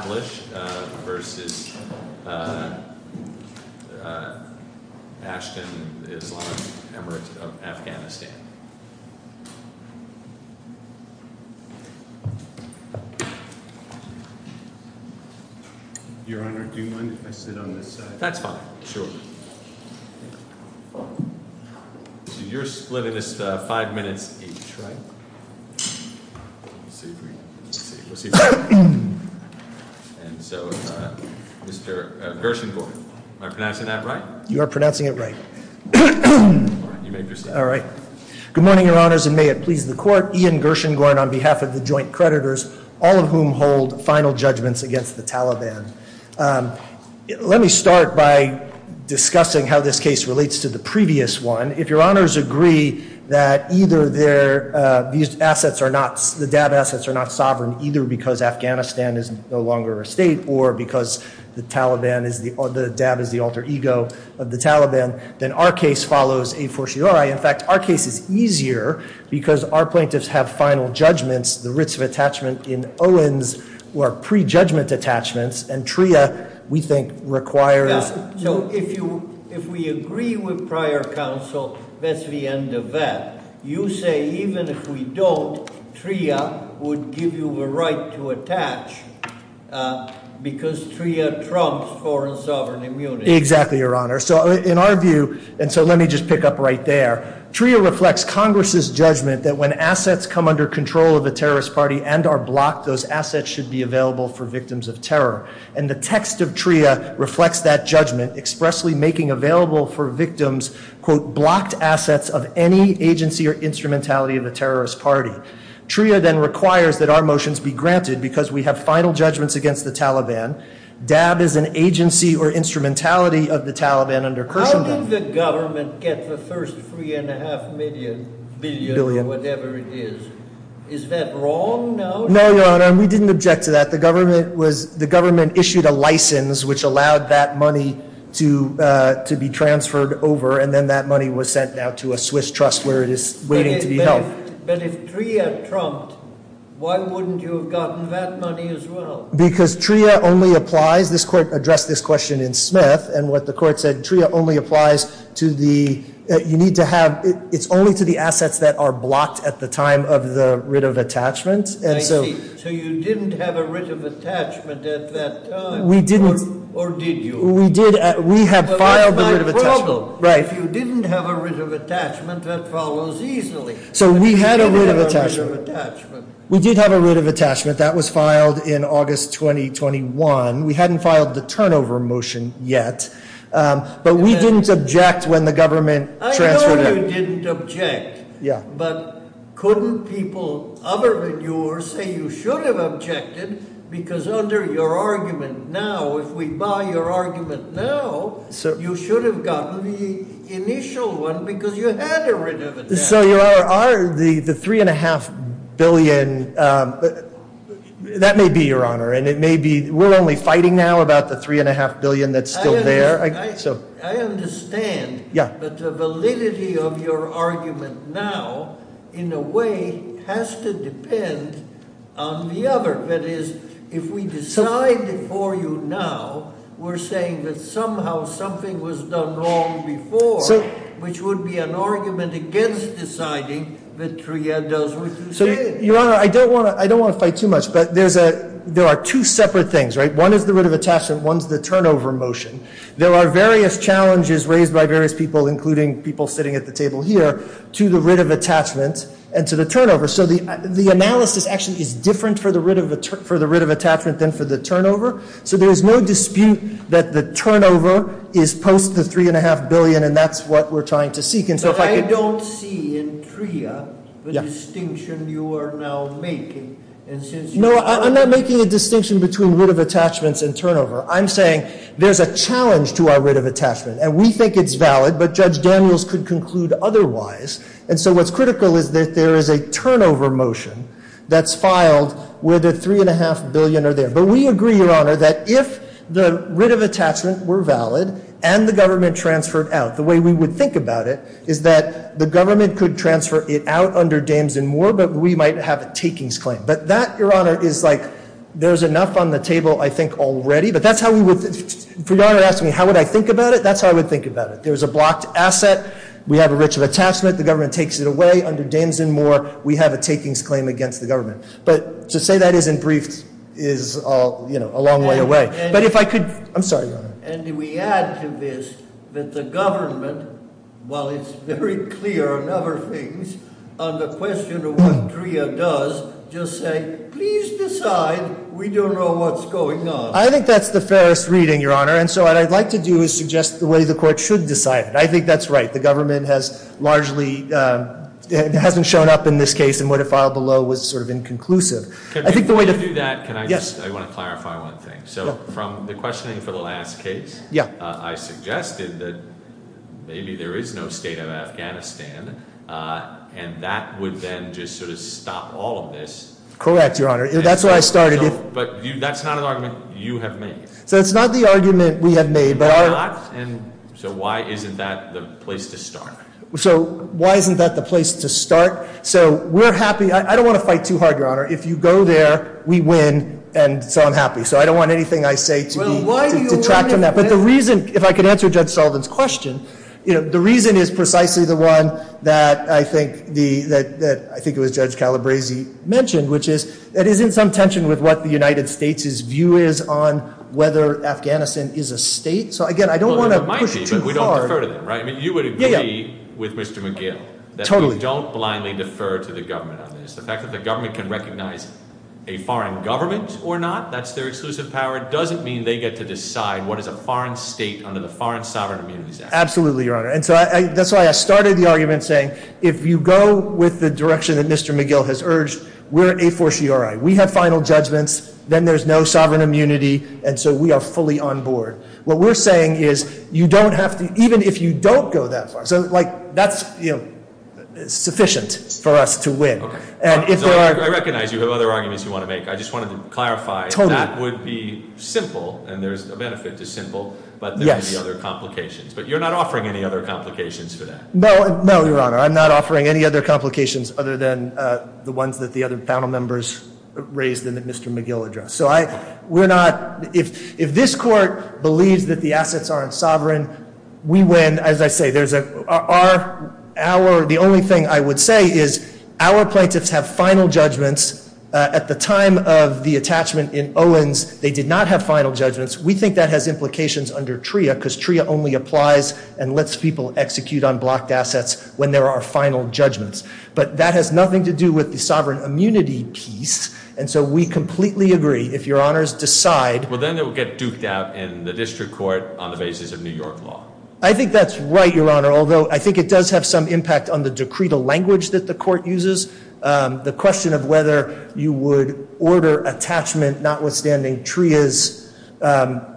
v. Ashton-Islam Emirates of Afghanistan. Your Honor, do you mind if I sit on this side? That's fine, sure. So you're splitting this five minutes each, right? Let's see if we can, let's see if we can. And so, Mr. Gershengorn, am I pronouncing that right? You are pronouncing it right. All right, you may proceed. All right. Good morning, Your Honors, and may it please the Court. Ian Gershengorn on behalf of the Joint Creditors, all of whom hold final judgments against the Taliban. Let me start by discussing how this case relates to the previous one. If Your Honors agree that either the DAB assets are not sovereign, either because Afghanistan is no longer a state, or because the DAB is the alter ego of the Taliban, then our case follows a fortiori. In fact, our case is easier because our plaintiffs have final judgments, the writs of attachment in Owens, or pre-judgment attachments, and TRIA, we think, requires. So if we agree with prior counsel, that's the end of that. You say even if we don't, TRIA would give you the right to attach because TRIA trumps foreign sovereign immunity. Exactly, Your Honor. So in our view, and so let me just pick up right there, TRIA reflects Congress's judgment that when assets come under control of a terrorist party and are blocked, those assets should be available for victims of terror. And the text of TRIA reflects that judgment, expressly making available for victims, quote, blocked assets of any agency or instrumentality of a terrorist party. TRIA then requires that our motions be granted because we have final judgments against the Taliban. DAB is an agency or instrumentality of the Taliban under Khrushchev. How did the government get the first three and a half million, billion, whatever it is? Is that wrong now? No, Your Honor, and we didn't object to that. The government issued a license which allowed that money to be transferred over, and then that money was sent out to a Swiss trust where it is waiting to be held. But if TRIA trumped, why wouldn't you have gotten that money as well? Because TRIA only applies, this court addressed this question in Smith, and what the court said, TRIA only applies to the, you need to have, it's only to the assets that are blocked at the time of the writ of attachment. I see, so you didn't have a writ of attachment at that time. We didn't. Or did you? We did, we have filed a writ of attachment. But that's my problem. Right. If you didn't have a writ of attachment, that follows easily. So we had a writ of attachment. But we didn't have a writ of attachment. We did have a writ of attachment. That was filed in August 2021. We hadn't filed the turnover motion yet. But we didn't object when the government transferred it. I know you didn't object. Yeah. But couldn't people other than yours say you should have objected? Because under your argument now, if we buy your argument now, you should have gotten the initial one because you had a writ of attachment. So the $3.5 billion, that may be, Your Honor. And it may be we're only fighting now about the $3.5 billion that's still there. I understand. Yeah. But the validity of your argument now, in a way, has to depend on the other. That is, if we decide for you now we're saying that somehow something was done wrong before, which would be an argument against deciding that TRIA does what you say. So, Your Honor, I don't want to fight too much. But there are two separate things, right? One is the writ of attachment. One is the turnover motion. There are various challenges raised by various people, including people sitting at the table here, to the writ of attachment and to the turnover. So the analysis actually is different for the writ of attachment than for the turnover. So there is no dispute that the turnover is post the $3.5 billion, and that's what we're trying to seek. But I don't see in TRIA the distinction you are now making. No, I'm not making a distinction between writ of attachments and turnover. I'm saying there's a challenge to our writ of attachment. And we think it's valid, but Judge Daniels could conclude otherwise. And so what's critical is that there is a turnover motion that's filed where the $3.5 billion are there. But we agree, Your Honor, that if the writ of attachment were valid and the government transferred out, the way we would think about it is that the government could transfer it out under Dames and Moore, but we might have a takings claim. But that, Your Honor, is like there's enough on the table, I think, already. But that's how we would – if Your Honor asked me how would I think about it, that's how I would think about it. There's a blocked asset. We have a writ of attachment. The government takes it away under Dames and Moore. We have a takings claim against the government. But to say that isn't briefed is a long way away. But if I could – I'm sorry, Your Honor. And we add to this that the government, while it's very clear on other things, on the question of what DREA does, just say, please decide. We don't know what's going on. I think that's the fairest reading, Your Honor. And so what I'd like to do is suggest the way the court should decide it. I think that's right. The government has largely – it hasn't shown up in this case, and what it filed below was sort of inconclusive. I think the way to – Can we do that? Can I just – I want to clarify one thing. So from the questioning for the last case, I suggested that maybe there is no state of Afghanistan, and that would then just sort of stop all of this. Correct, Your Honor. That's where I started. But that's not an argument you have made. So it's not the argument we have made, but our – So why isn't that the place to start? So why isn't that the place to start? So we're happy – I don't want to fight too hard, Your Honor. If you go there, we win, and so I'm happy. So I don't want anything I say to be – Well, why do you want to win? But the reason – if I could answer Judge Sullivan's question, the reason is precisely the one that I think the – that I think it was Judge Calabresi mentioned, which is there is some tension with what the United States' view is on whether Afghanistan is a state. So, again, I don't want to push too hard – Well, it might be, but we don't defer to them, right? I mean, you would agree with Mr. McGill that we don't blindly defer to the government on this. The fact that the government can recognize a foreign government or not, that's their exclusive power, doesn't mean they get to decide what is a foreign state under the Foreign Sovereign Immunities Act. Absolutely, Your Honor. And so that's why I started the argument saying if you go with the direction that Mr. McGill has urged, we're an a fortiori. We have final judgments. Then there's no sovereign immunity, and so we are fully on board. What we're saying is you don't have to – even if you don't go that far. So, like, that's sufficient for us to win. And if there are – I recognize you have other arguments you want to make. I just wanted to clarify. Totally. That would be simple, and there's a benefit to simple. But there would be other complications. But you're not offering any other complications for that. No, Your Honor. I'm not offering any other complications other than the ones that the other panel members raised in the Mr. McGill address. So I – we're not – if this court believes that the assets aren't sovereign, we win. As I say, there's a – our – the only thing I would say is our plaintiffs have final judgments. At the time of the attachment in Owens, they did not have final judgments. We think that has implications under TRIA because TRIA only applies and lets people execute on blocked assets when there are final judgments. But that has nothing to do with the sovereign immunity piece. And so we completely agree, if Your Honors decide – Well, then it would get duked out in the district court on the basis of New York law. I think that's right, Your Honor, although I think it does have some impact on the decree, the language that the court uses. The question of whether you would order attachment notwithstanding TRIA's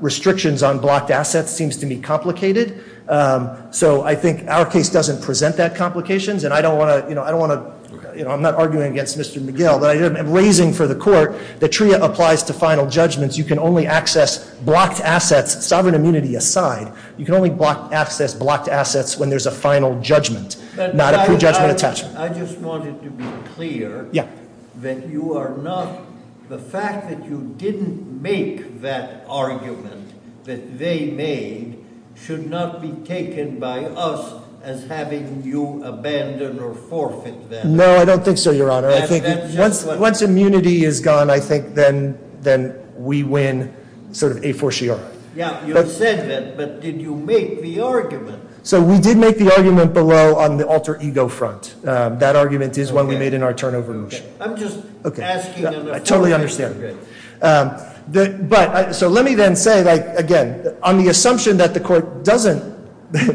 restrictions on blocked assets seems to me complicated. So I think our case doesn't present that complications, and I don't want to – you know, I don't want to – I'm raising for the court that TRIA applies to final judgments. You can only access blocked assets, sovereign immunity aside. You can only access blocked assets when there's a final judgment, not a prejudgment attachment. I just wanted to be clear that you are not – the fact that you didn't make that argument that they made should not be taken by us as having you abandon or forfeit that. No, I don't think so, Your Honor. I think once immunity is gone, I think then we win sort of a fortiori. Yeah, you said that, but did you make the argument? So we did make the argument below on the alter ego front. That argument is what we made in our turnover motion. I'm just asking – I totally understand. But – so let me then say, like, again, on the assumption that the court doesn't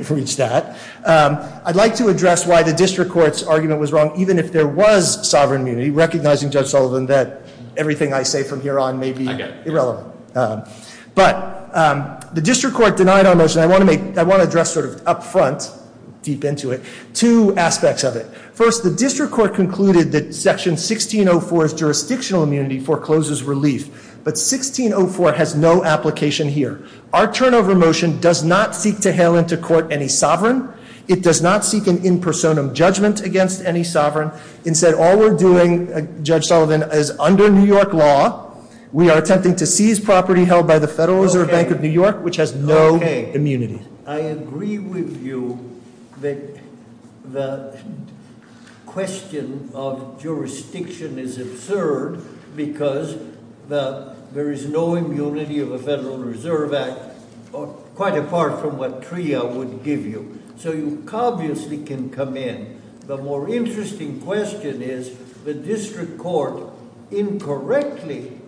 reach that, I'd like to address why the district court's argument was wrong even if there was sovereign immunity, recognizing, Judge Sullivan, that everything I say from here on may be irrelevant. But the district court denied our motion. I want to make – I want to address sort of up front, deep into it, two aspects of it. First, the district court concluded that Section 1604's jurisdictional immunity forecloses relief. But 1604 has no application here. Our turnover motion does not seek to hail into court any sovereign. It does not seek an in personam judgment against any sovereign. Instead, all we're doing, Judge Sullivan, is under New York law, we are attempting to seize property held by the Federal Reserve Bank of New York, which has no immunity. I agree with you that the question of jurisdiction is absurd because there is no immunity of a Federal Reserve Act quite apart from what TRIA would give you. So you obviously can come in. The more interesting question is the district court incorrectly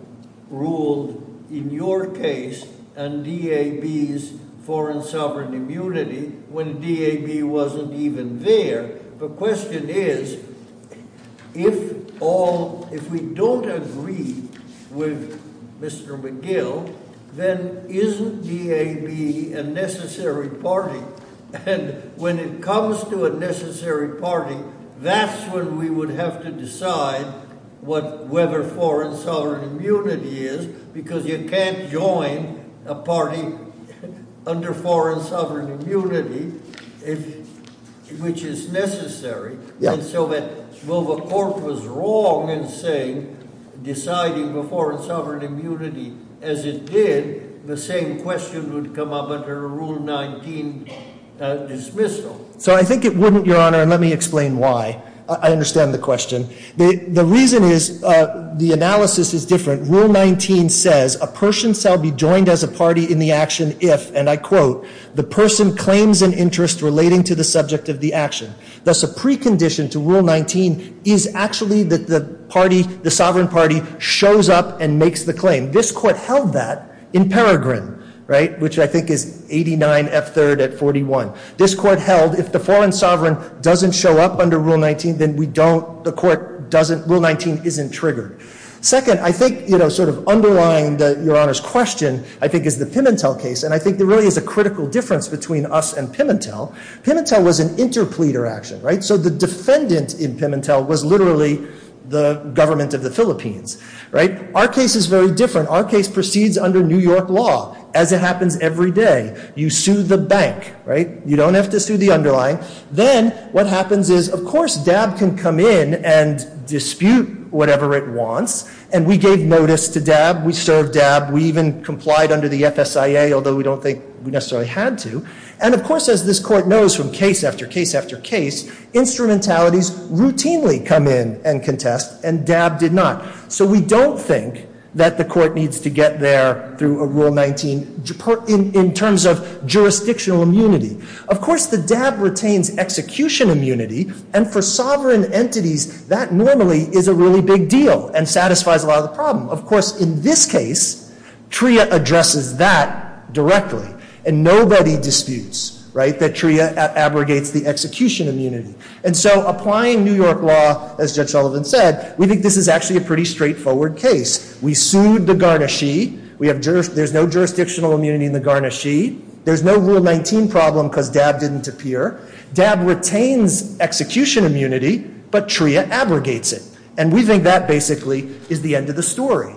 ruled in your case on DAB's foreign sovereign immunity when DAB wasn't even there. The question is, if all – if we don't agree with Mr. McGill, then isn't DAB a necessary party? And when it comes to a necessary party, that's when we would have to decide whether foreign sovereign immunity is, because you can't join a party under foreign sovereign immunity, which is necessary. And so that while the court was wrong in saying, deciding the foreign sovereign immunity as it did, the same question would come up under a Rule 19 dismissal. So I think it wouldn't, Your Honor, and let me explain why. I understand the question. The reason is, the analysis is different. Rule 19 says, a person shall be joined as a party in the action if, and I quote, the person claims an interest relating to the subject of the action. Thus, a precondition to Rule 19 is actually that the party, the sovereign party, shows up and makes the claim. This court held that in Peregrine, right, which I think is 89F3rd at 41. This court held if the foreign sovereign doesn't show up under Rule 19, then we don't, the court doesn't, Rule 19 isn't triggered. Second, I think, you know, sort of underlying Your Honor's question, I think is the Pimentel case, and I think there really is a critical difference between us and Pimentel. Pimentel was an interpleader action, right? So the defendant in Pimentel was literally the government of the Philippines, right? Our case is very different. Our case proceeds under New York law as it happens every day. You sue the bank, right? You don't have to sue the underlying. Then what happens is, of course, DAB can come in and dispute whatever it wants, and we gave notice to DAB. We served DAB. We even complied under the FSIA, although we don't think we necessarily had to. And, of course, as this court knows from case after case after case, instrumentalities routinely come in and contest, and DAB did not. So we don't think that the court needs to get there through a Rule 19 in terms of jurisdictional immunity. Of course, the DAB retains execution immunity, and for sovereign entities, that normally is a really big deal and satisfies a lot of the problem. Of course, in this case, TRIA addresses that directly, and nobody disputes, right, that TRIA abrogates the execution immunity. And so applying New York law, as Judge Sullivan said, we think this is actually a pretty straightforward case. We sued the garnishee. There's no jurisdictional immunity in the garnishee. There's no Rule 19 problem because DAB didn't appear. DAB retains execution immunity, but TRIA abrogates it, and we think that basically is the end of the story.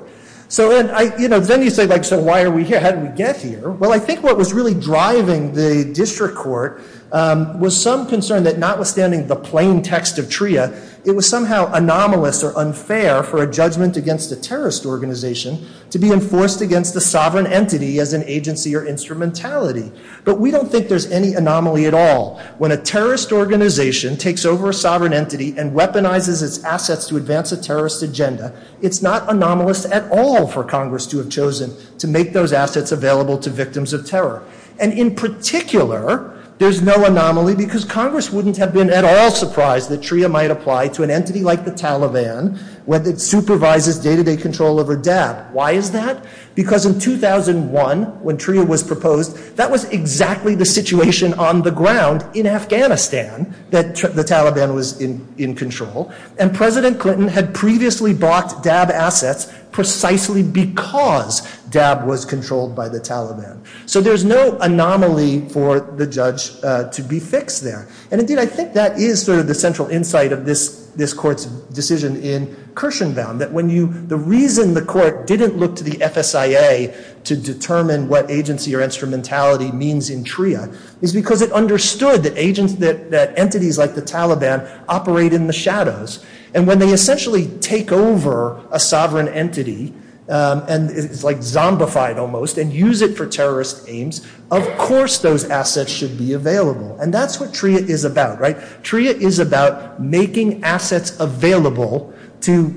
So then you say, like, so why are we here? How did we get here? Well, I think what was really driving the district court was some concern that notwithstanding the plain text of TRIA, it was somehow anomalous or unfair for a judgment against a terrorist organization to be enforced against a sovereign entity as an agency or instrumentality. But we don't think there's any anomaly at all. When a terrorist organization takes over a sovereign entity and weaponizes its assets to advance a terrorist agenda, it's not anomalous at all for Congress to have chosen to make those assets available to victims of terror. And in particular, there's no anomaly because Congress wouldn't have been at all surprised that TRIA might apply to an entity like the Taliban, whether it supervises day-to-day control over DAB. Why is that? Because in 2001, when TRIA was proposed, that was exactly the situation on the ground in Afghanistan that the Taliban was in control. And President Clinton had previously blocked DAB assets precisely because DAB was controlled by the Taliban. So there's no anomaly for the judge to be fixed there. And indeed, I think that is sort of the central insight of this court's decision in Kirshenbaum, that when you—the reason the court didn't look to the FSIA to determine what agency or instrumentality means in TRIA is because it understood that entities like the Taliban operate in the shadows. And when they essentially take over a sovereign entity, and it's like zombified almost, and use it for terrorist aims, of course those assets should be available. And that's what TRIA is about, right? TRIA is about making assets available to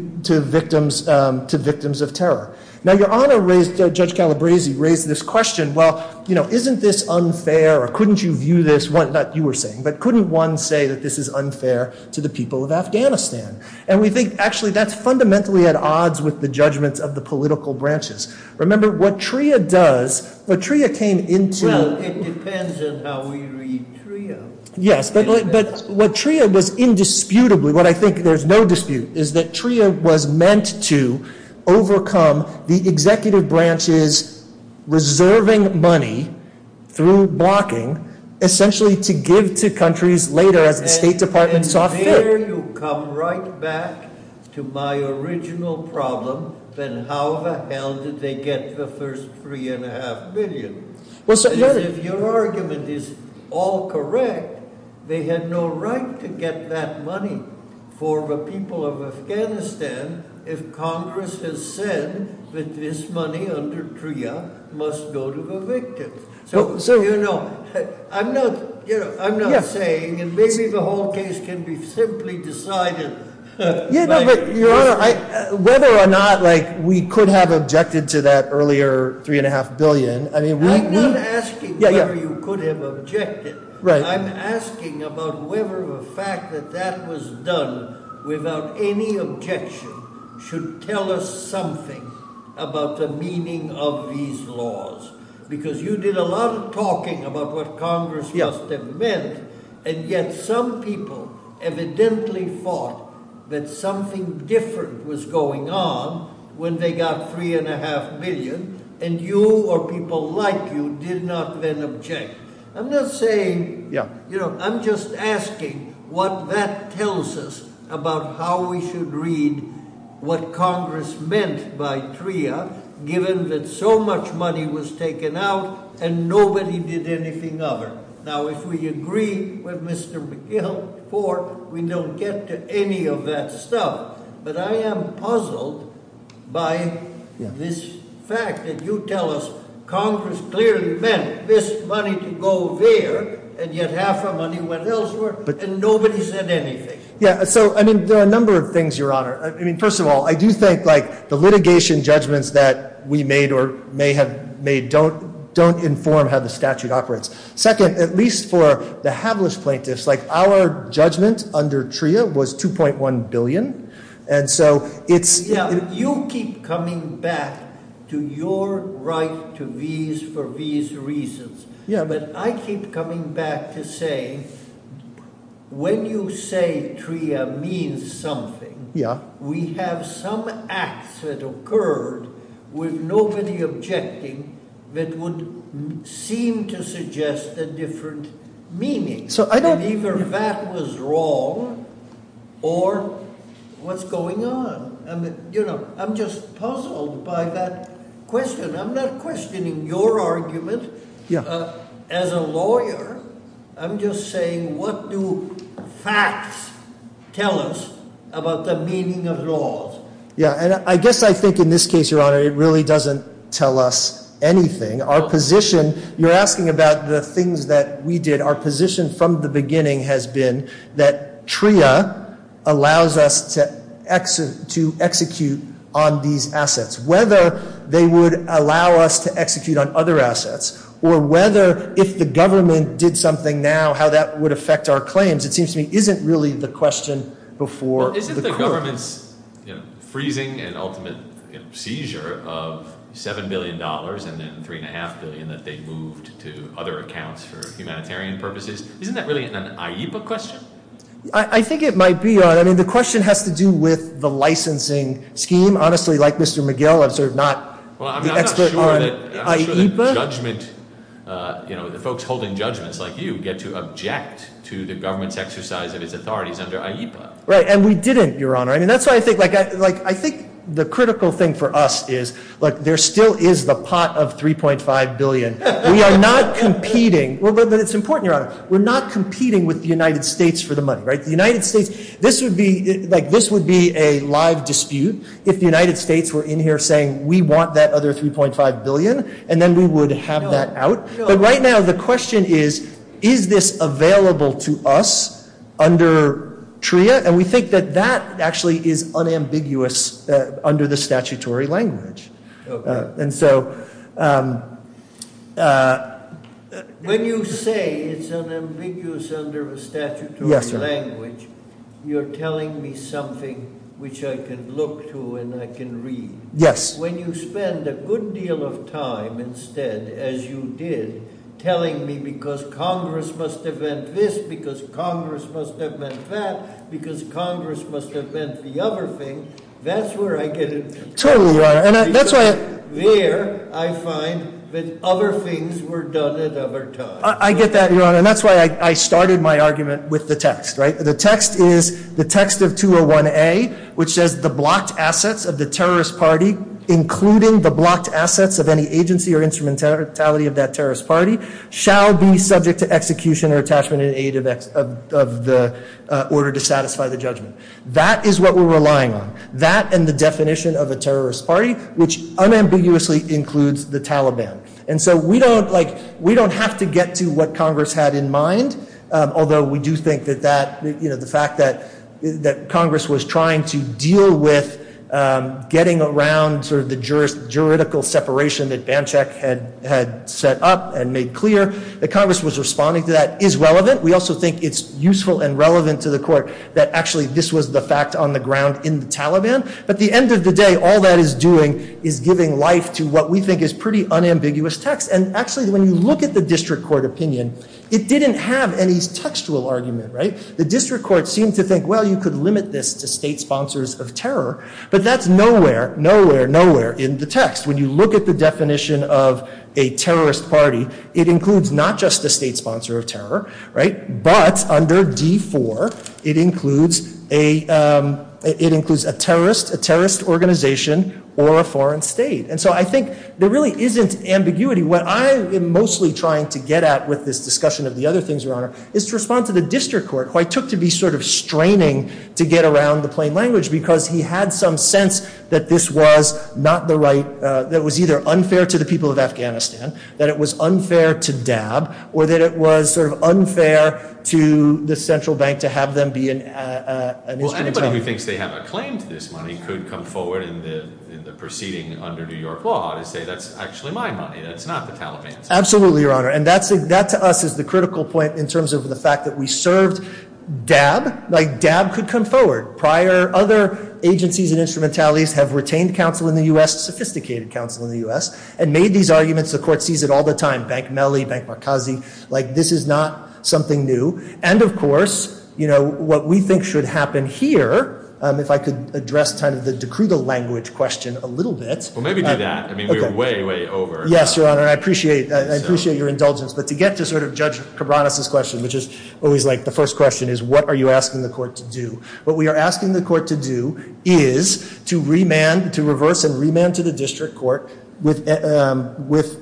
victims of terror. Now, Your Honor raised—Judge Calabresi raised this question, well, you know, isn't this unfair, or couldn't you view this—not you were saying, but couldn't one say that this is unfair to the people of Afghanistan? And we think, actually, that's fundamentally at odds with the judgments of the political branches. Remember, what TRIA does—what TRIA came into— Well, it depends on how we read TRIA. Yes, but what TRIA was indisputably—what I think there's no dispute— is that TRIA was meant to overcome the executive branches reserving money through blocking, essentially to give to countries later as the State Department saw fit. And there you come right back to my original problem, then how the hell did they get the first three and a half million? Because if your argument is all correct, they had no right to get that money for the people of Afghanistan if Congress has said that this money under TRIA must go to the victims. So, you know, I'm not saying—and maybe the whole case can be simply decided— Yeah, but Your Honor, whether or not we could have objected to that earlier three and a half billion, I mean, we— I'm not asking whether you could have objected. I'm asking about whether the fact that that was done without any objection should tell us something about the meaning of these laws. Because you did a lot of talking about what Congress just meant, and yet some people evidently thought that something different was going on when they got three and a half billion, and you or people like you did not then object. I'm not saying—you know, I'm just asking what that tells us about how we should read what Congress meant by TRIA given that so much money was taken out and nobody did anything other. Now, if we agree with Mr. McGill, we don't get to any of that stuff. But I am puzzled by this fact that you tell us Congress clearly meant this money to go there, and yet half the money went elsewhere, and nobody said anything. Yeah, so, I mean, there are a number of things, Your Honor. I mean, first of all, I do think, like, the litigation judgments that we made or may have made don't inform how the statute operates. Second, at least for the hapless plaintiffs, like our judgment under TRIA was $2.1 billion, and so it's— Yeah, you keep coming back to your right to these for these reasons, but I keep coming back to say when you say TRIA means something, we have some acts that occurred with nobody objecting that would seem to suggest a different meaning. So I don't— And either that was wrong or what's going on. You know, I'm just puzzled by that question. I'm not questioning your argument as a lawyer. I'm just saying what do facts tell us about the meaning of laws? Yeah, and I guess I think in this case, Your Honor, it really doesn't tell us anything. Our position—you're asking about the things that we did. Our position from the beginning has been that TRIA allows us to execute on these assets, whether they would allow us to execute on other assets or whether if the government did something now how that would affect our claims, it seems to me isn't really the question before the court. Isn't the government's freezing and ultimate seizure of $7 billion and then $3.5 billion that they moved to other accounts for humanitarian purposes, isn't that really an IEPA question? I think it might be, Your Honor. I mean, the question has to do with the licensing scheme. Honestly, like Mr. McGill, I'm sort of not the expert on IEPA. Well, I'm not sure that judgment—you know, the folks holding judgments like you get to object to the government's exercise of its authorities under IEPA. Right, and we didn't, Your Honor. I think the critical thing for us is, like, there still is the pot of $3.5 billion. We are not competing—well, but it's important, Your Honor. We're not competing with the United States for the money, right? The United States—this would be a live dispute if the United States were in here saying, we want that other $3.5 billion, and then we would have that out. But right now the question is, is this available to us under TRIA? And we think that that actually is unambiguous under the statutory language. And so— When you say it's unambiguous under the statutory language, you're telling me something which I can look to and I can read. Yes. When you spend a good deal of time instead, as you did, telling me because Congress must have meant this, because Congress must have meant that, because Congress must have meant the other thing, that's where I get it. Totally, Your Honor. Because there I find that other things were done at other times. I get that, Your Honor. And that's why I started my argument with the text, right? The text is the text of 201A, which says the blocked assets of the terrorist party, including the blocked assets of any agency or instrumentality of that terrorist party, shall be subject to execution or attachment in aid of the order to satisfy the judgment. That is what we're relying on. That and the definition of a terrorist party, which unambiguously includes the Taliban. And so we don't have to get to what Congress had in mind, although we do think that the fact that Congress was trying to deal with getting around the juridical separation that Banchek had set up and made clear, that Congress was responding to that, is relevant. We also think it's useful and relevant to the court that actually this was the fact on the ground in the Taliban. But at the end of the day, all that is doing is giving life to what we think is pretty unambiguous text. And actually, when you look at the district court opinion, it didn't have any textual argument, right? The district court seemed to think, well, you could limit this to state sponsors of terror, but that's nowhere, nowhere, nowhere in the text. When you look at the definition of a terrorist party, it includes not just a state sponsor of terror, right? But under D4, it includes a terrorist, a terrorist organization, or a foreign state. And so I think there really isn't ambiguity. What I am mostly trying to get at with this discussion of the other things, Your Honor, is to respond to the district court, who I took to be sort of straining to get around the plain language because he had some sense that this was not the right, that it was either unfair to the people of Afghanistan, that it was unfair to DAB, or that it was sort of unfair to the central bank to have them be an instrument of government. Well, anybody who thinks they have a claim to this money could come forward in the proceeding under New York law to say that's actually my money, that's not the Taliban's money. Absolutely, Your Honor. And that to us is the critical point in terms of the fact that we served DAB. DAB could come forward. Prior other agencies and instrumentalities have retained counsel in the U.S., sophisticated counsel in the U.S., and made these arguments. The court sees it all the time. Bank Melly, Bank Markazi. This is not something new. And, of course, what we think should happen here, if I could address kind of the de crudo language question a little bit. Well, maybe do that. I mean, we are way, way over. Yes, Your Honor. I appreciate your indulgence. But to get to sort of Judge Cabranes' question, which is always like the first question is what are you asking the court to do? What we are asking the court to do is to remand, to reverse and remand to the district court with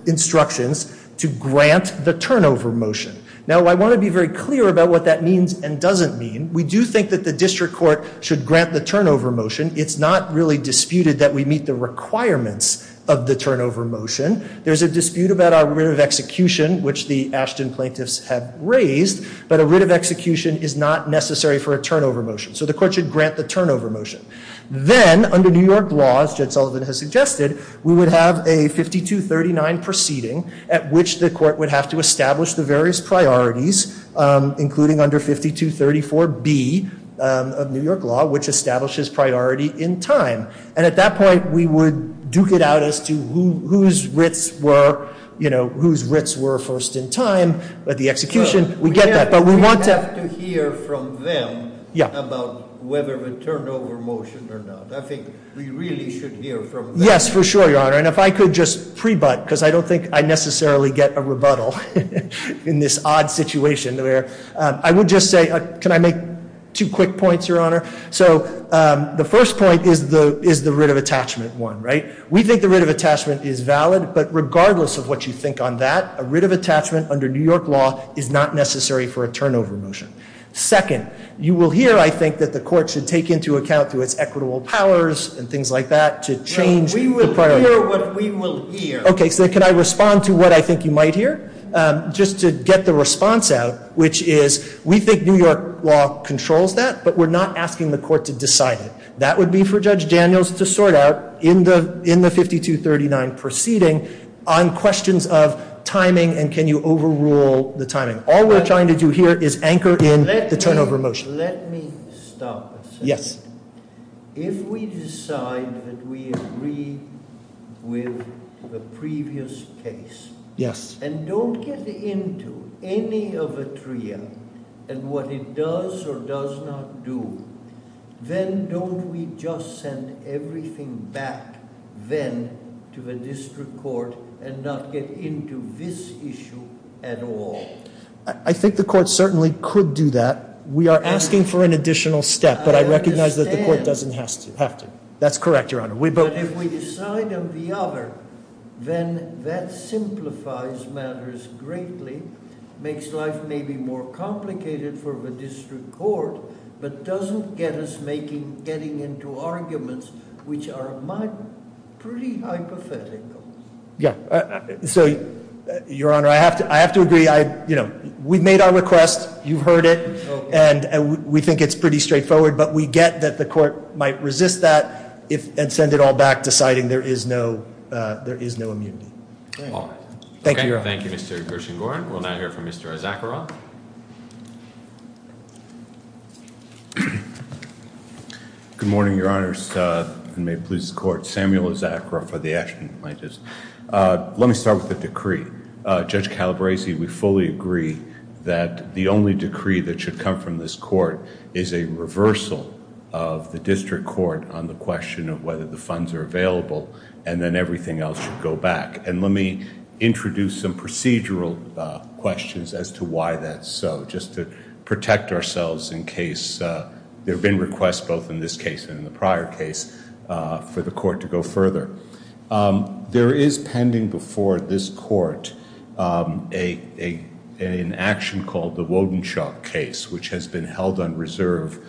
instructions to grant the turnover motion. Now, I want to be very clear about what that means and doesn't mean. We do think that the district court should grant the turnover motion. It's not really disputed that we meet the requirements of the turnover motion. There's a dispute about our writ of execution, which the Ashton plaintiffs have raised. But a writ of execution is not necessary for a turnover motion. So the court should grant the turnover motion. Then, under New York law, as Jed Sullivan has suggested, we would have a 5239 proceeding at which the court would have to establish the various priorities, including under 5234B of New York law, which establishes priority in time. And at that point, we would duke it out as to whose writs were, you know, whose writs were first in time. But the execution, we get that. But we want to have to hear from them about whether a turnover motion or not. I think we really should hear from them. Yes, for sure, Your Honor. And if I could just prebut, because I don't think I necessarily get a rebuttal in this odd situation where I would just say, can I make two quick points, Your Honor? So the first point is the writ of attachment one, right? We think the writ of attachment is valid. But regardless of what you think on that, a writ of attachment under New York law is not necessary for a turnover motion. Second, you will hear, I think, that the court should take into account through its equitable powers and things like that to change the priority. No, we will hear what we will hear. Okay, so can I respond to what I think you might hear? Just to get the response out, which is we think New York law controls that, but we're not asking the court to decide it. That would be for Judge Daniels to sort out in the 5239 proceeding on questions of timing and can you overrule the timing. All we're trying to do here is anchor in the turnover motion. Let me stop a second. Yes. If we decide that we agree with the previous case. And don't get into any of Atria and what it does or does not do, then don't we just send everything back then to the district court and not get into this issue at all? I think the court certainly could do that. We are asking for an additional step, but I recognize that the court doesn't have to. That's correct, Your Honor. But if we decide on the other, then that simplifies matters greatly, makes life maybe more complicated for the district court, but doesn't get us getting into arguments which are pretty hypothetical. So, Your Honor, I have to agree. We've made our request. You've heard it. And we think it's pretty straightforward. But we get that the court might resist that and send it all back, deciding there is no immunity. Thank you, Your Honor. Thank you, Mr. Gershengorn. We'll now hear from Mr. Zacharoff. Good morning, Your Honors. May it please the Court. Samuel Zacharoff for the Action Plaintiffs. Let me start with the decree. Judge Calabresi, we fully agree that the only decree that should come from this court is a reversal of the district court on the question of whether the funds are available and then everything else should go back. And let me introduce some procedural questions as to why that's so, just to protect ourselves in case there have been requests both in this case and in the prior case for the court to go further. There is pending before this court an action called the Wodenshaw case, which has been held on reserve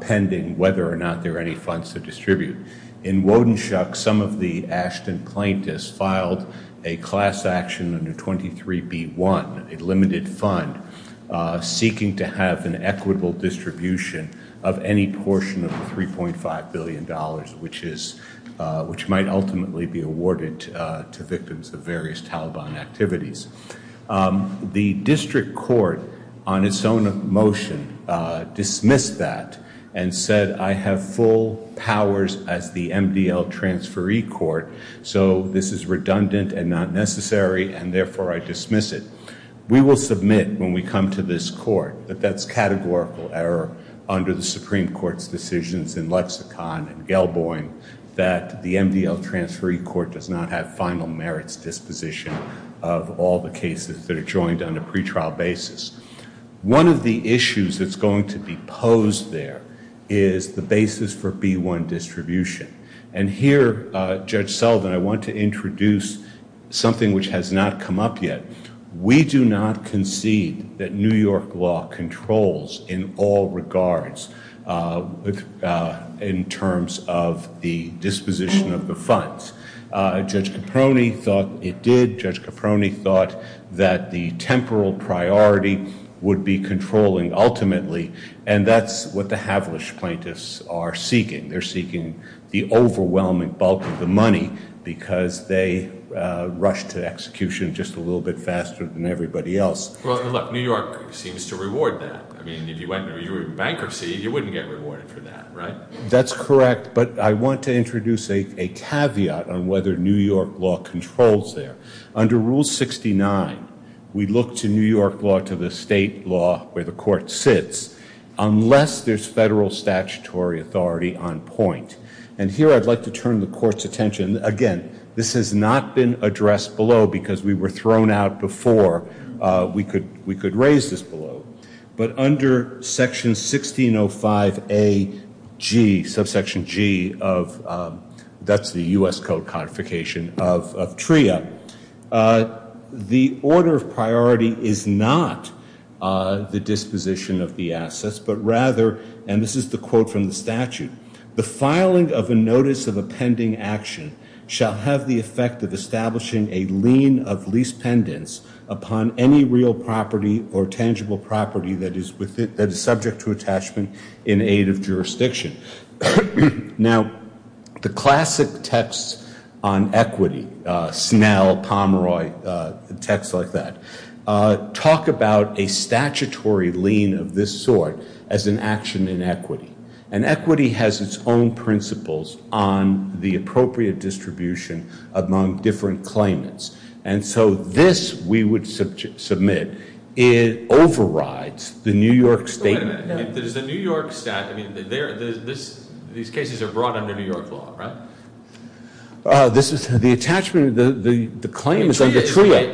pending whether or not there are any funds to distribute. In Wodenshaw, some of the Ashton plaintiffs filed a class action under 23B1, a limited fund, seeking to have an equitable distribution of any portion of the $3.5 billion, which might ultimately be awarded to victims of various Taliban activities. The district court on its own motion dismissed that and said, I have full powers as the MDL transferee court, so this is redundant and not necessary, and therefore I dismiss it. We will submit when we come to this court that that's categorical error under the Supreme Court's decisions in Lexicon and Gelboin that the MDL transferee court does not have final merits disposition of all the cases that are joined on a pretrial basis. One of the issues that's going to be posed there is the basis for B1 distribution. And here, Judge Sullivan, I want to introduce something which has not come up yet. We do not concede that New York law controls in all regards in terms of the disposition of the funds. Judge Caproni thought it did. Judge Caproni thought that the temporal priority would be controlling ultimately, and that's what the Havelish plaintiffs are seeking. They're seeking the overwhelming bulk of the money because they rush to execution just a little bit faster than everybody else. Well, look, New York seems to reward that. I mean, if you went through bankruptcy, you wouldn't get rewarded for that, right? That's correct, but I want to introduce a caveat on whether New York law controls there. Under Rule 69, we look to New York law to the state law where the court sits unless there's federal statutory authority on point. And here, I'd like to turn the court's attention. Again, this has not been addressed below because we were thrown out before we could raise this below. But under Section 1605AG, subsection G of that's the U.S. Code codification of TRIA, the order of priority is not the disposition of the assets, but rather, and this is the quote from the statute, the filing of a notice of a pending action shall have the effect of establishing a lien of lease pendants upon any real property or tangible property that is subject to attachment in aid of jurisdiction. Now, the classic texts on equity, Snell, Pomeroy, texts like that, talk about a statutory lien of this sort as an action in equity. And equity has its own principles on the appropriate distribution among different claimants. And so this we would submit. It overrides the New York statement. Wait a minute. If there's a New York statute, I mean, these cases are brought under New York law, right? This is the attachment, the claim is under TRIA.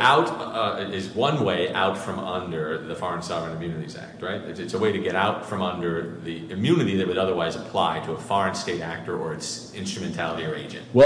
It's one way out from under the Foreign Sovereign Immunities Act, right? It's a way to get out from under the immunity that would otherwise apply to a foreign state actor or its instrumentality or agent. Do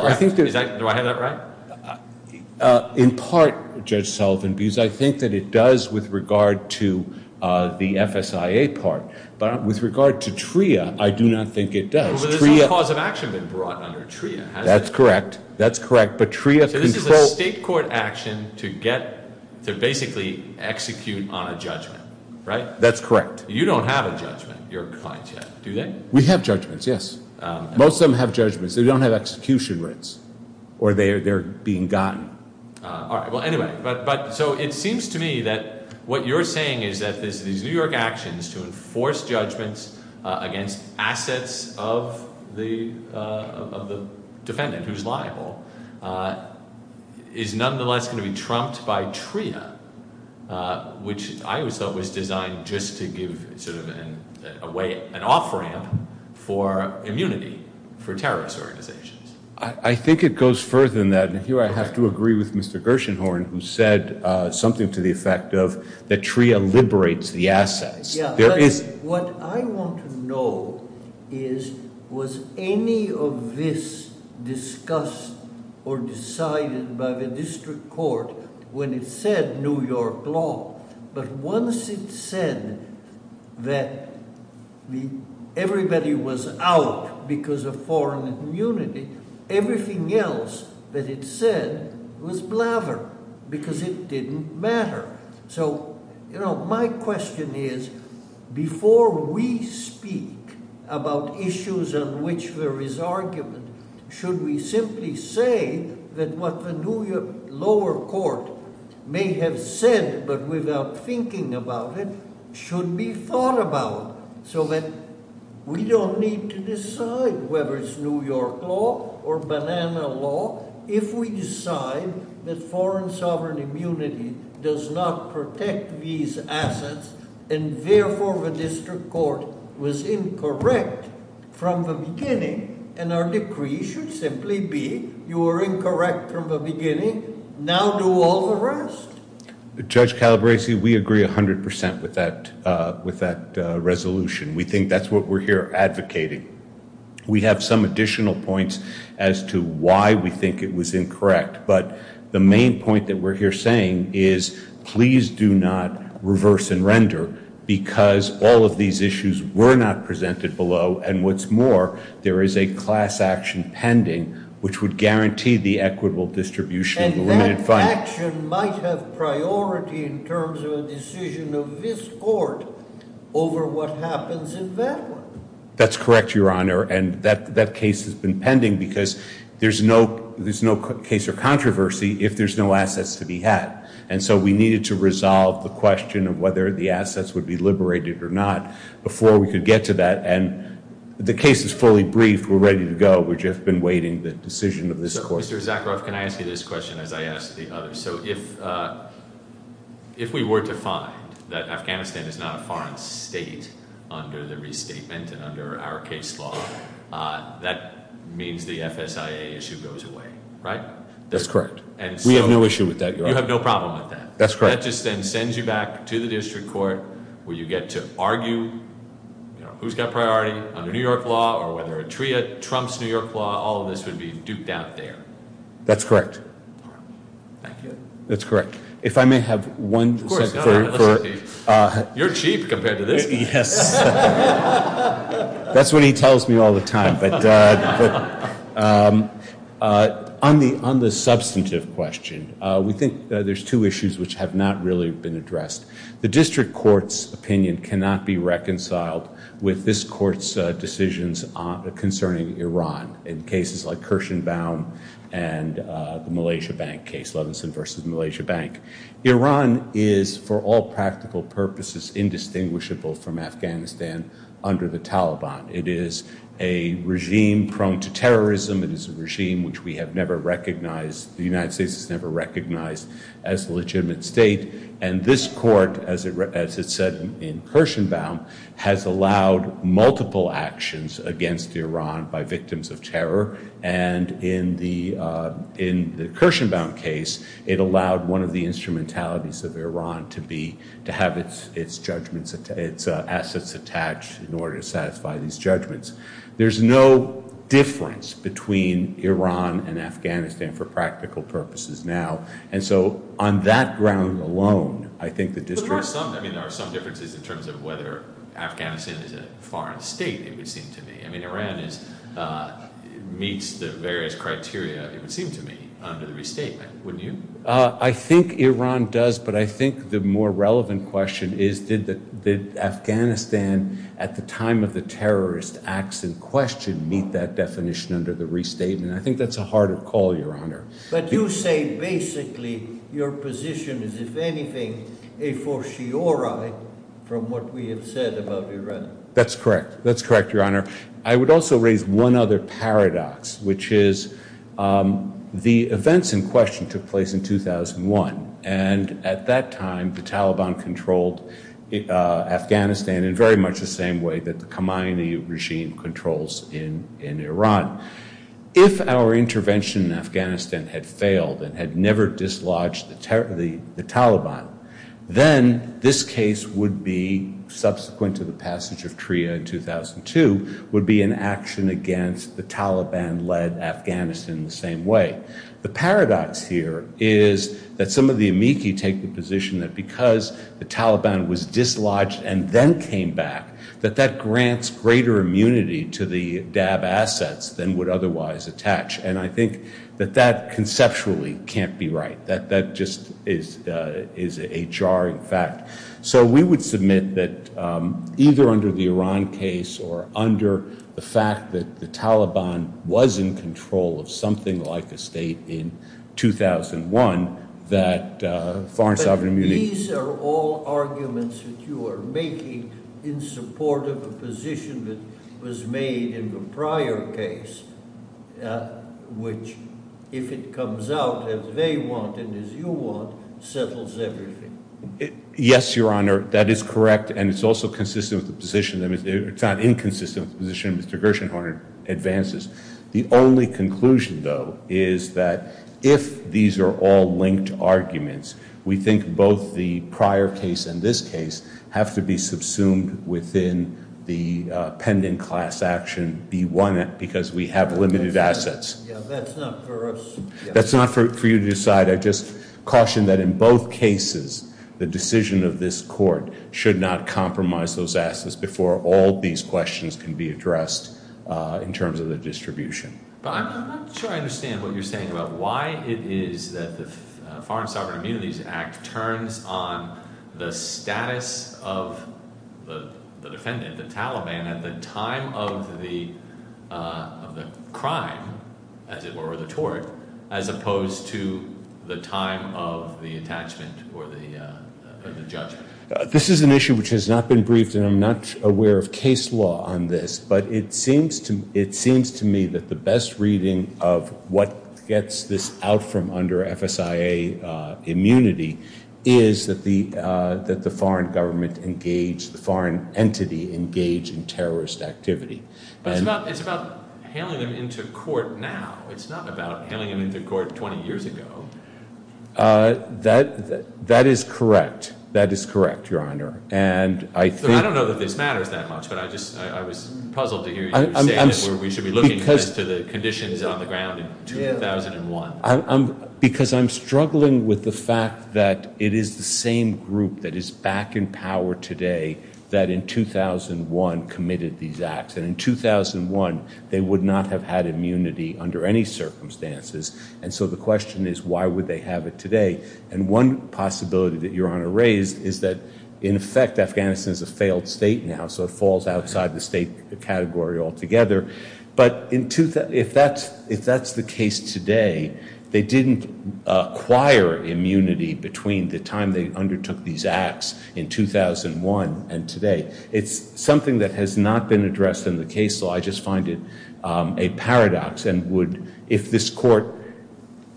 I have that right? In part, Judge Sullivan, because I think that it does with regard to the FSIA part. But with regard to TRIA, I do not think it does. But there's no cause of action been brought under TRIA, has there? That's correct. That's correct. So this is a state court action to basically execute on a judgment, right? That's correct. You don't have a judgment of your kind yet, do you? We have judgments, yes. Most of them have judgments. They don't have execution rights or they're being gotten. All right. Well, anyway, so it seems to me that what you're saying is that these New York actions to enforce judgments against assets of the defendant who's liable is nonetheless going to be trumped by TRIA, which I always thought was designed just to give sort of an off-ramp for immunity for terrorist organizations. I think it goes further than that. And here I have to agree with Mr. Gershenhorn, who said something to the effect of that TRIA liberates the assets. What I want to know is was any of this discussed or decided by the district court when it said New York law? But once it said that everybody was out because of foreign immunity, everything else that it said was blather because it didn't matter. So my question is before we speak about issues on which there is argument, should we simply say that what the New York lower court may have said but without thinking about it should be thought about so that we don't need to decide whether it's New York law or banana law. If we decide that foreign sovereign immunity does not protect these assets and therefore the district court was incorrect from the beginning and our decree should simply be you were incorrect from the beginning, now do all the rest. Judge Calabresi, we agree 100% with that resolution. We think that's what we're here advocating. We have some additional points as to why we think it was incorrect. But the main point that we're here saying is please do not reverse and render because all of these issues were not presented below. And what's more, there is a class action pending, which would guarantee the equitable distribution. And that action might have priority in terms of a decision of this court over what happens in that one. That's correct, Your Honor. And that case has been pending because there's no case of controversy if there's no assets to be had. And so we needed to resolve the question of whether the assets would be liberated or not before we could get to that. And the case is fully briefed. We're ready to go. We've just been waiting the decision of this court. Mr. Zakharoff, can I ask you this question as I ask the others? So if we were to find that Afghanistan is not a foreign state under the restatement and under our case law, that means the FSIA issue goes away, right? That's correct. We have no issue with that, Your Honor. You have no problem with that. That's correct. Thank you. That's correct. If I may have one second. Of course, Your Honor. You're chief compared to this. Yes. That's what he tells me all the time. But on the substantive question, we think there's two issues which have not really been addressed. The district court's opinion cannot be reconciled with this court's decisions concerning Iran in cases like Kirshenbaum and the Malaysia Bank case, Levinson v. Malaysia Bank. Iran is, for all practical purposes, indistinguishable from Afghanistan under the Taliban. It is a regime prone to terrorism. It is a regime which we have never recognized. The United States has never recognized as a legitimate state. And this court, as it said in Kirshenbaum, has allowed multiple actions against Iran by victims of terror. And in the Kirshenbaum case, it allowed one of the instrumentalities of Iran to have its judgments, its assets attached in order to satisfy these judgments. There's no difference between Iran and Afghanistan for practical purposes now. And so on that ground alone, I think the district – But there are some – I mean, there are some differences in terms of whether Afghanistan is a foreign state, it would seem to me. I mean, Iran is – meets the various criteria, it would seem to me, under the restatement, wouldn't you? I think Iran does, but I think the more relevant question is did Afghanistan at the time of the terrorist acts in question meet that definition under the restatement? I think that's a harder call, Your Honor. But you say basically your position is, if anything, a fortiori from what we have said about Iran. That's correct. That's correct, Your Honor. I would also raise one other paradox, which is the events in question took place in 2001. And at that time, the Taliban controlled Afghanistan in very much the same way that the Khomeini regime controls in Iran. If our intervention in Afghanistan had failed and had never dislodged the Taliban, then this case would be, subsequent to the passage of TRIA in 2002, would be an action against the Taliban-led Afghanistan in the same way. The paradox here is that some of the amici take the position that because the Taliban was dislodged and then came back, that that grants greater immunity to the DAB assets than would otherwise attach. And I think that that conceptually can't be right. That just is a jarring fact. So we would submit that either under the Iran case or under the fact that the Taliban was in control of something like a state in 2001, that foreign sovereign immunity... But these are all arguments that you are making in support of a position that was made in the prior case, which, if it comes out as they want and as you want, settles everything. Yes, Your Honor, that is correct. And it's also consistent with the position. I mean, it's not inconsistent with the position Mr. Gershenhorn advances. The only conclusion, though, is that if these are all linked arguments, we think both the prior case and this case have to be subsumed within the pending class action B1, because we have limited assets. That's not for us. That's not for you to decide. I just caution that in both cases, the decision of this court should not compromise those assets before all these questions can be addressed in terms of the distribution. But I'm not sure I understand what you're saying about why it is that the Foreign Sovereign Immunities Act turns on the status of the defendant, the Taliban, at the time of the crime, as it were, or the tort, as opposed to the time of the attachment or the judgment. This is an issue which has not been briefed, and I'm not aware of case law on this, but it seems to me that the best reading of what gets this out from under FSIA immunity is that the foreign government engage, the foreign entity engage in terrorist activity. But it's about hailing them into court now. It's not about hailing them into court 20 years ago. That is correct. That is correct, Your Honor. I don't know that this matters that much, but I was puzzled to hear you say that we should be looking as to the conditions on the ground in 2001. Because I'm struggling with the fact that it is the same group that is back in power today that in 2001 committed these acts. And in 2001, they would not have had immunity under any circumstances. And so the question is, why would they have it today? And one possibility that Your Honor raised is that, in effect, Afghanistan is a failed state now, so it falls outside the state category altogether. But if that's the case today, they didn't acquire immunity between the time they undertook these acts in 2001 and today. It's something that has not been addressed in the case law. So I just find it a paradox. And if this court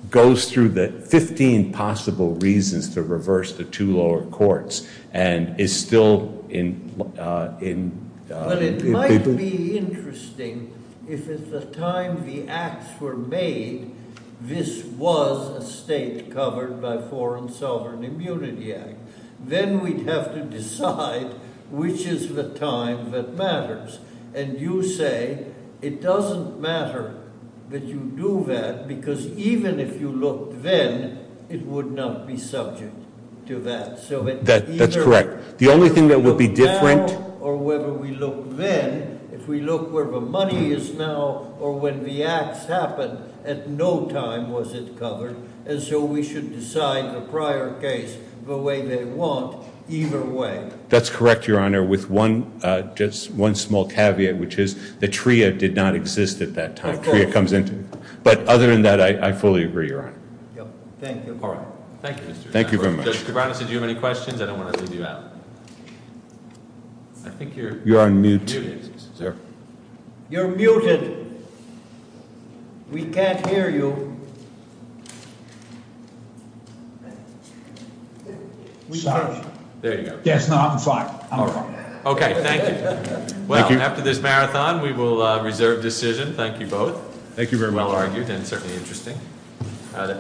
goes through the 15 possible reasons to reverse the two lower courts, and is still in... But it might be interesting if at the time the acts were made, this was a state covered by Foreign Sovereign Immunity Act. Then we'd have to decide which is the time that matters. And you say it doesn't matter that you do that, because even if you looked then, it would not be subject to that. That's correct. The only thing that would be different... ...or whether we look then, if we look where the money is now, or when the acts happened, at no time was it covered. And so we should decide the prior case the way they want, either way. That's correct, Your Honor, with just one small caveat, which is the TRIA did not exist at that time. TRIA comes into... But other than that, I fully agree, Your Honor. Thank you. All right. Thank you. Thank you very much. Judge Kibanis, did you have any questions? I don't want to leave you out. You're on mute. You're muted. We can't hear you. We can't hear you. There you go. Yes, now I'm fine. All right. Okay. Thank you. Well, after this marathon, we will reserve decision. Thank you both. Thank you very much. Well argued and certainly interesting.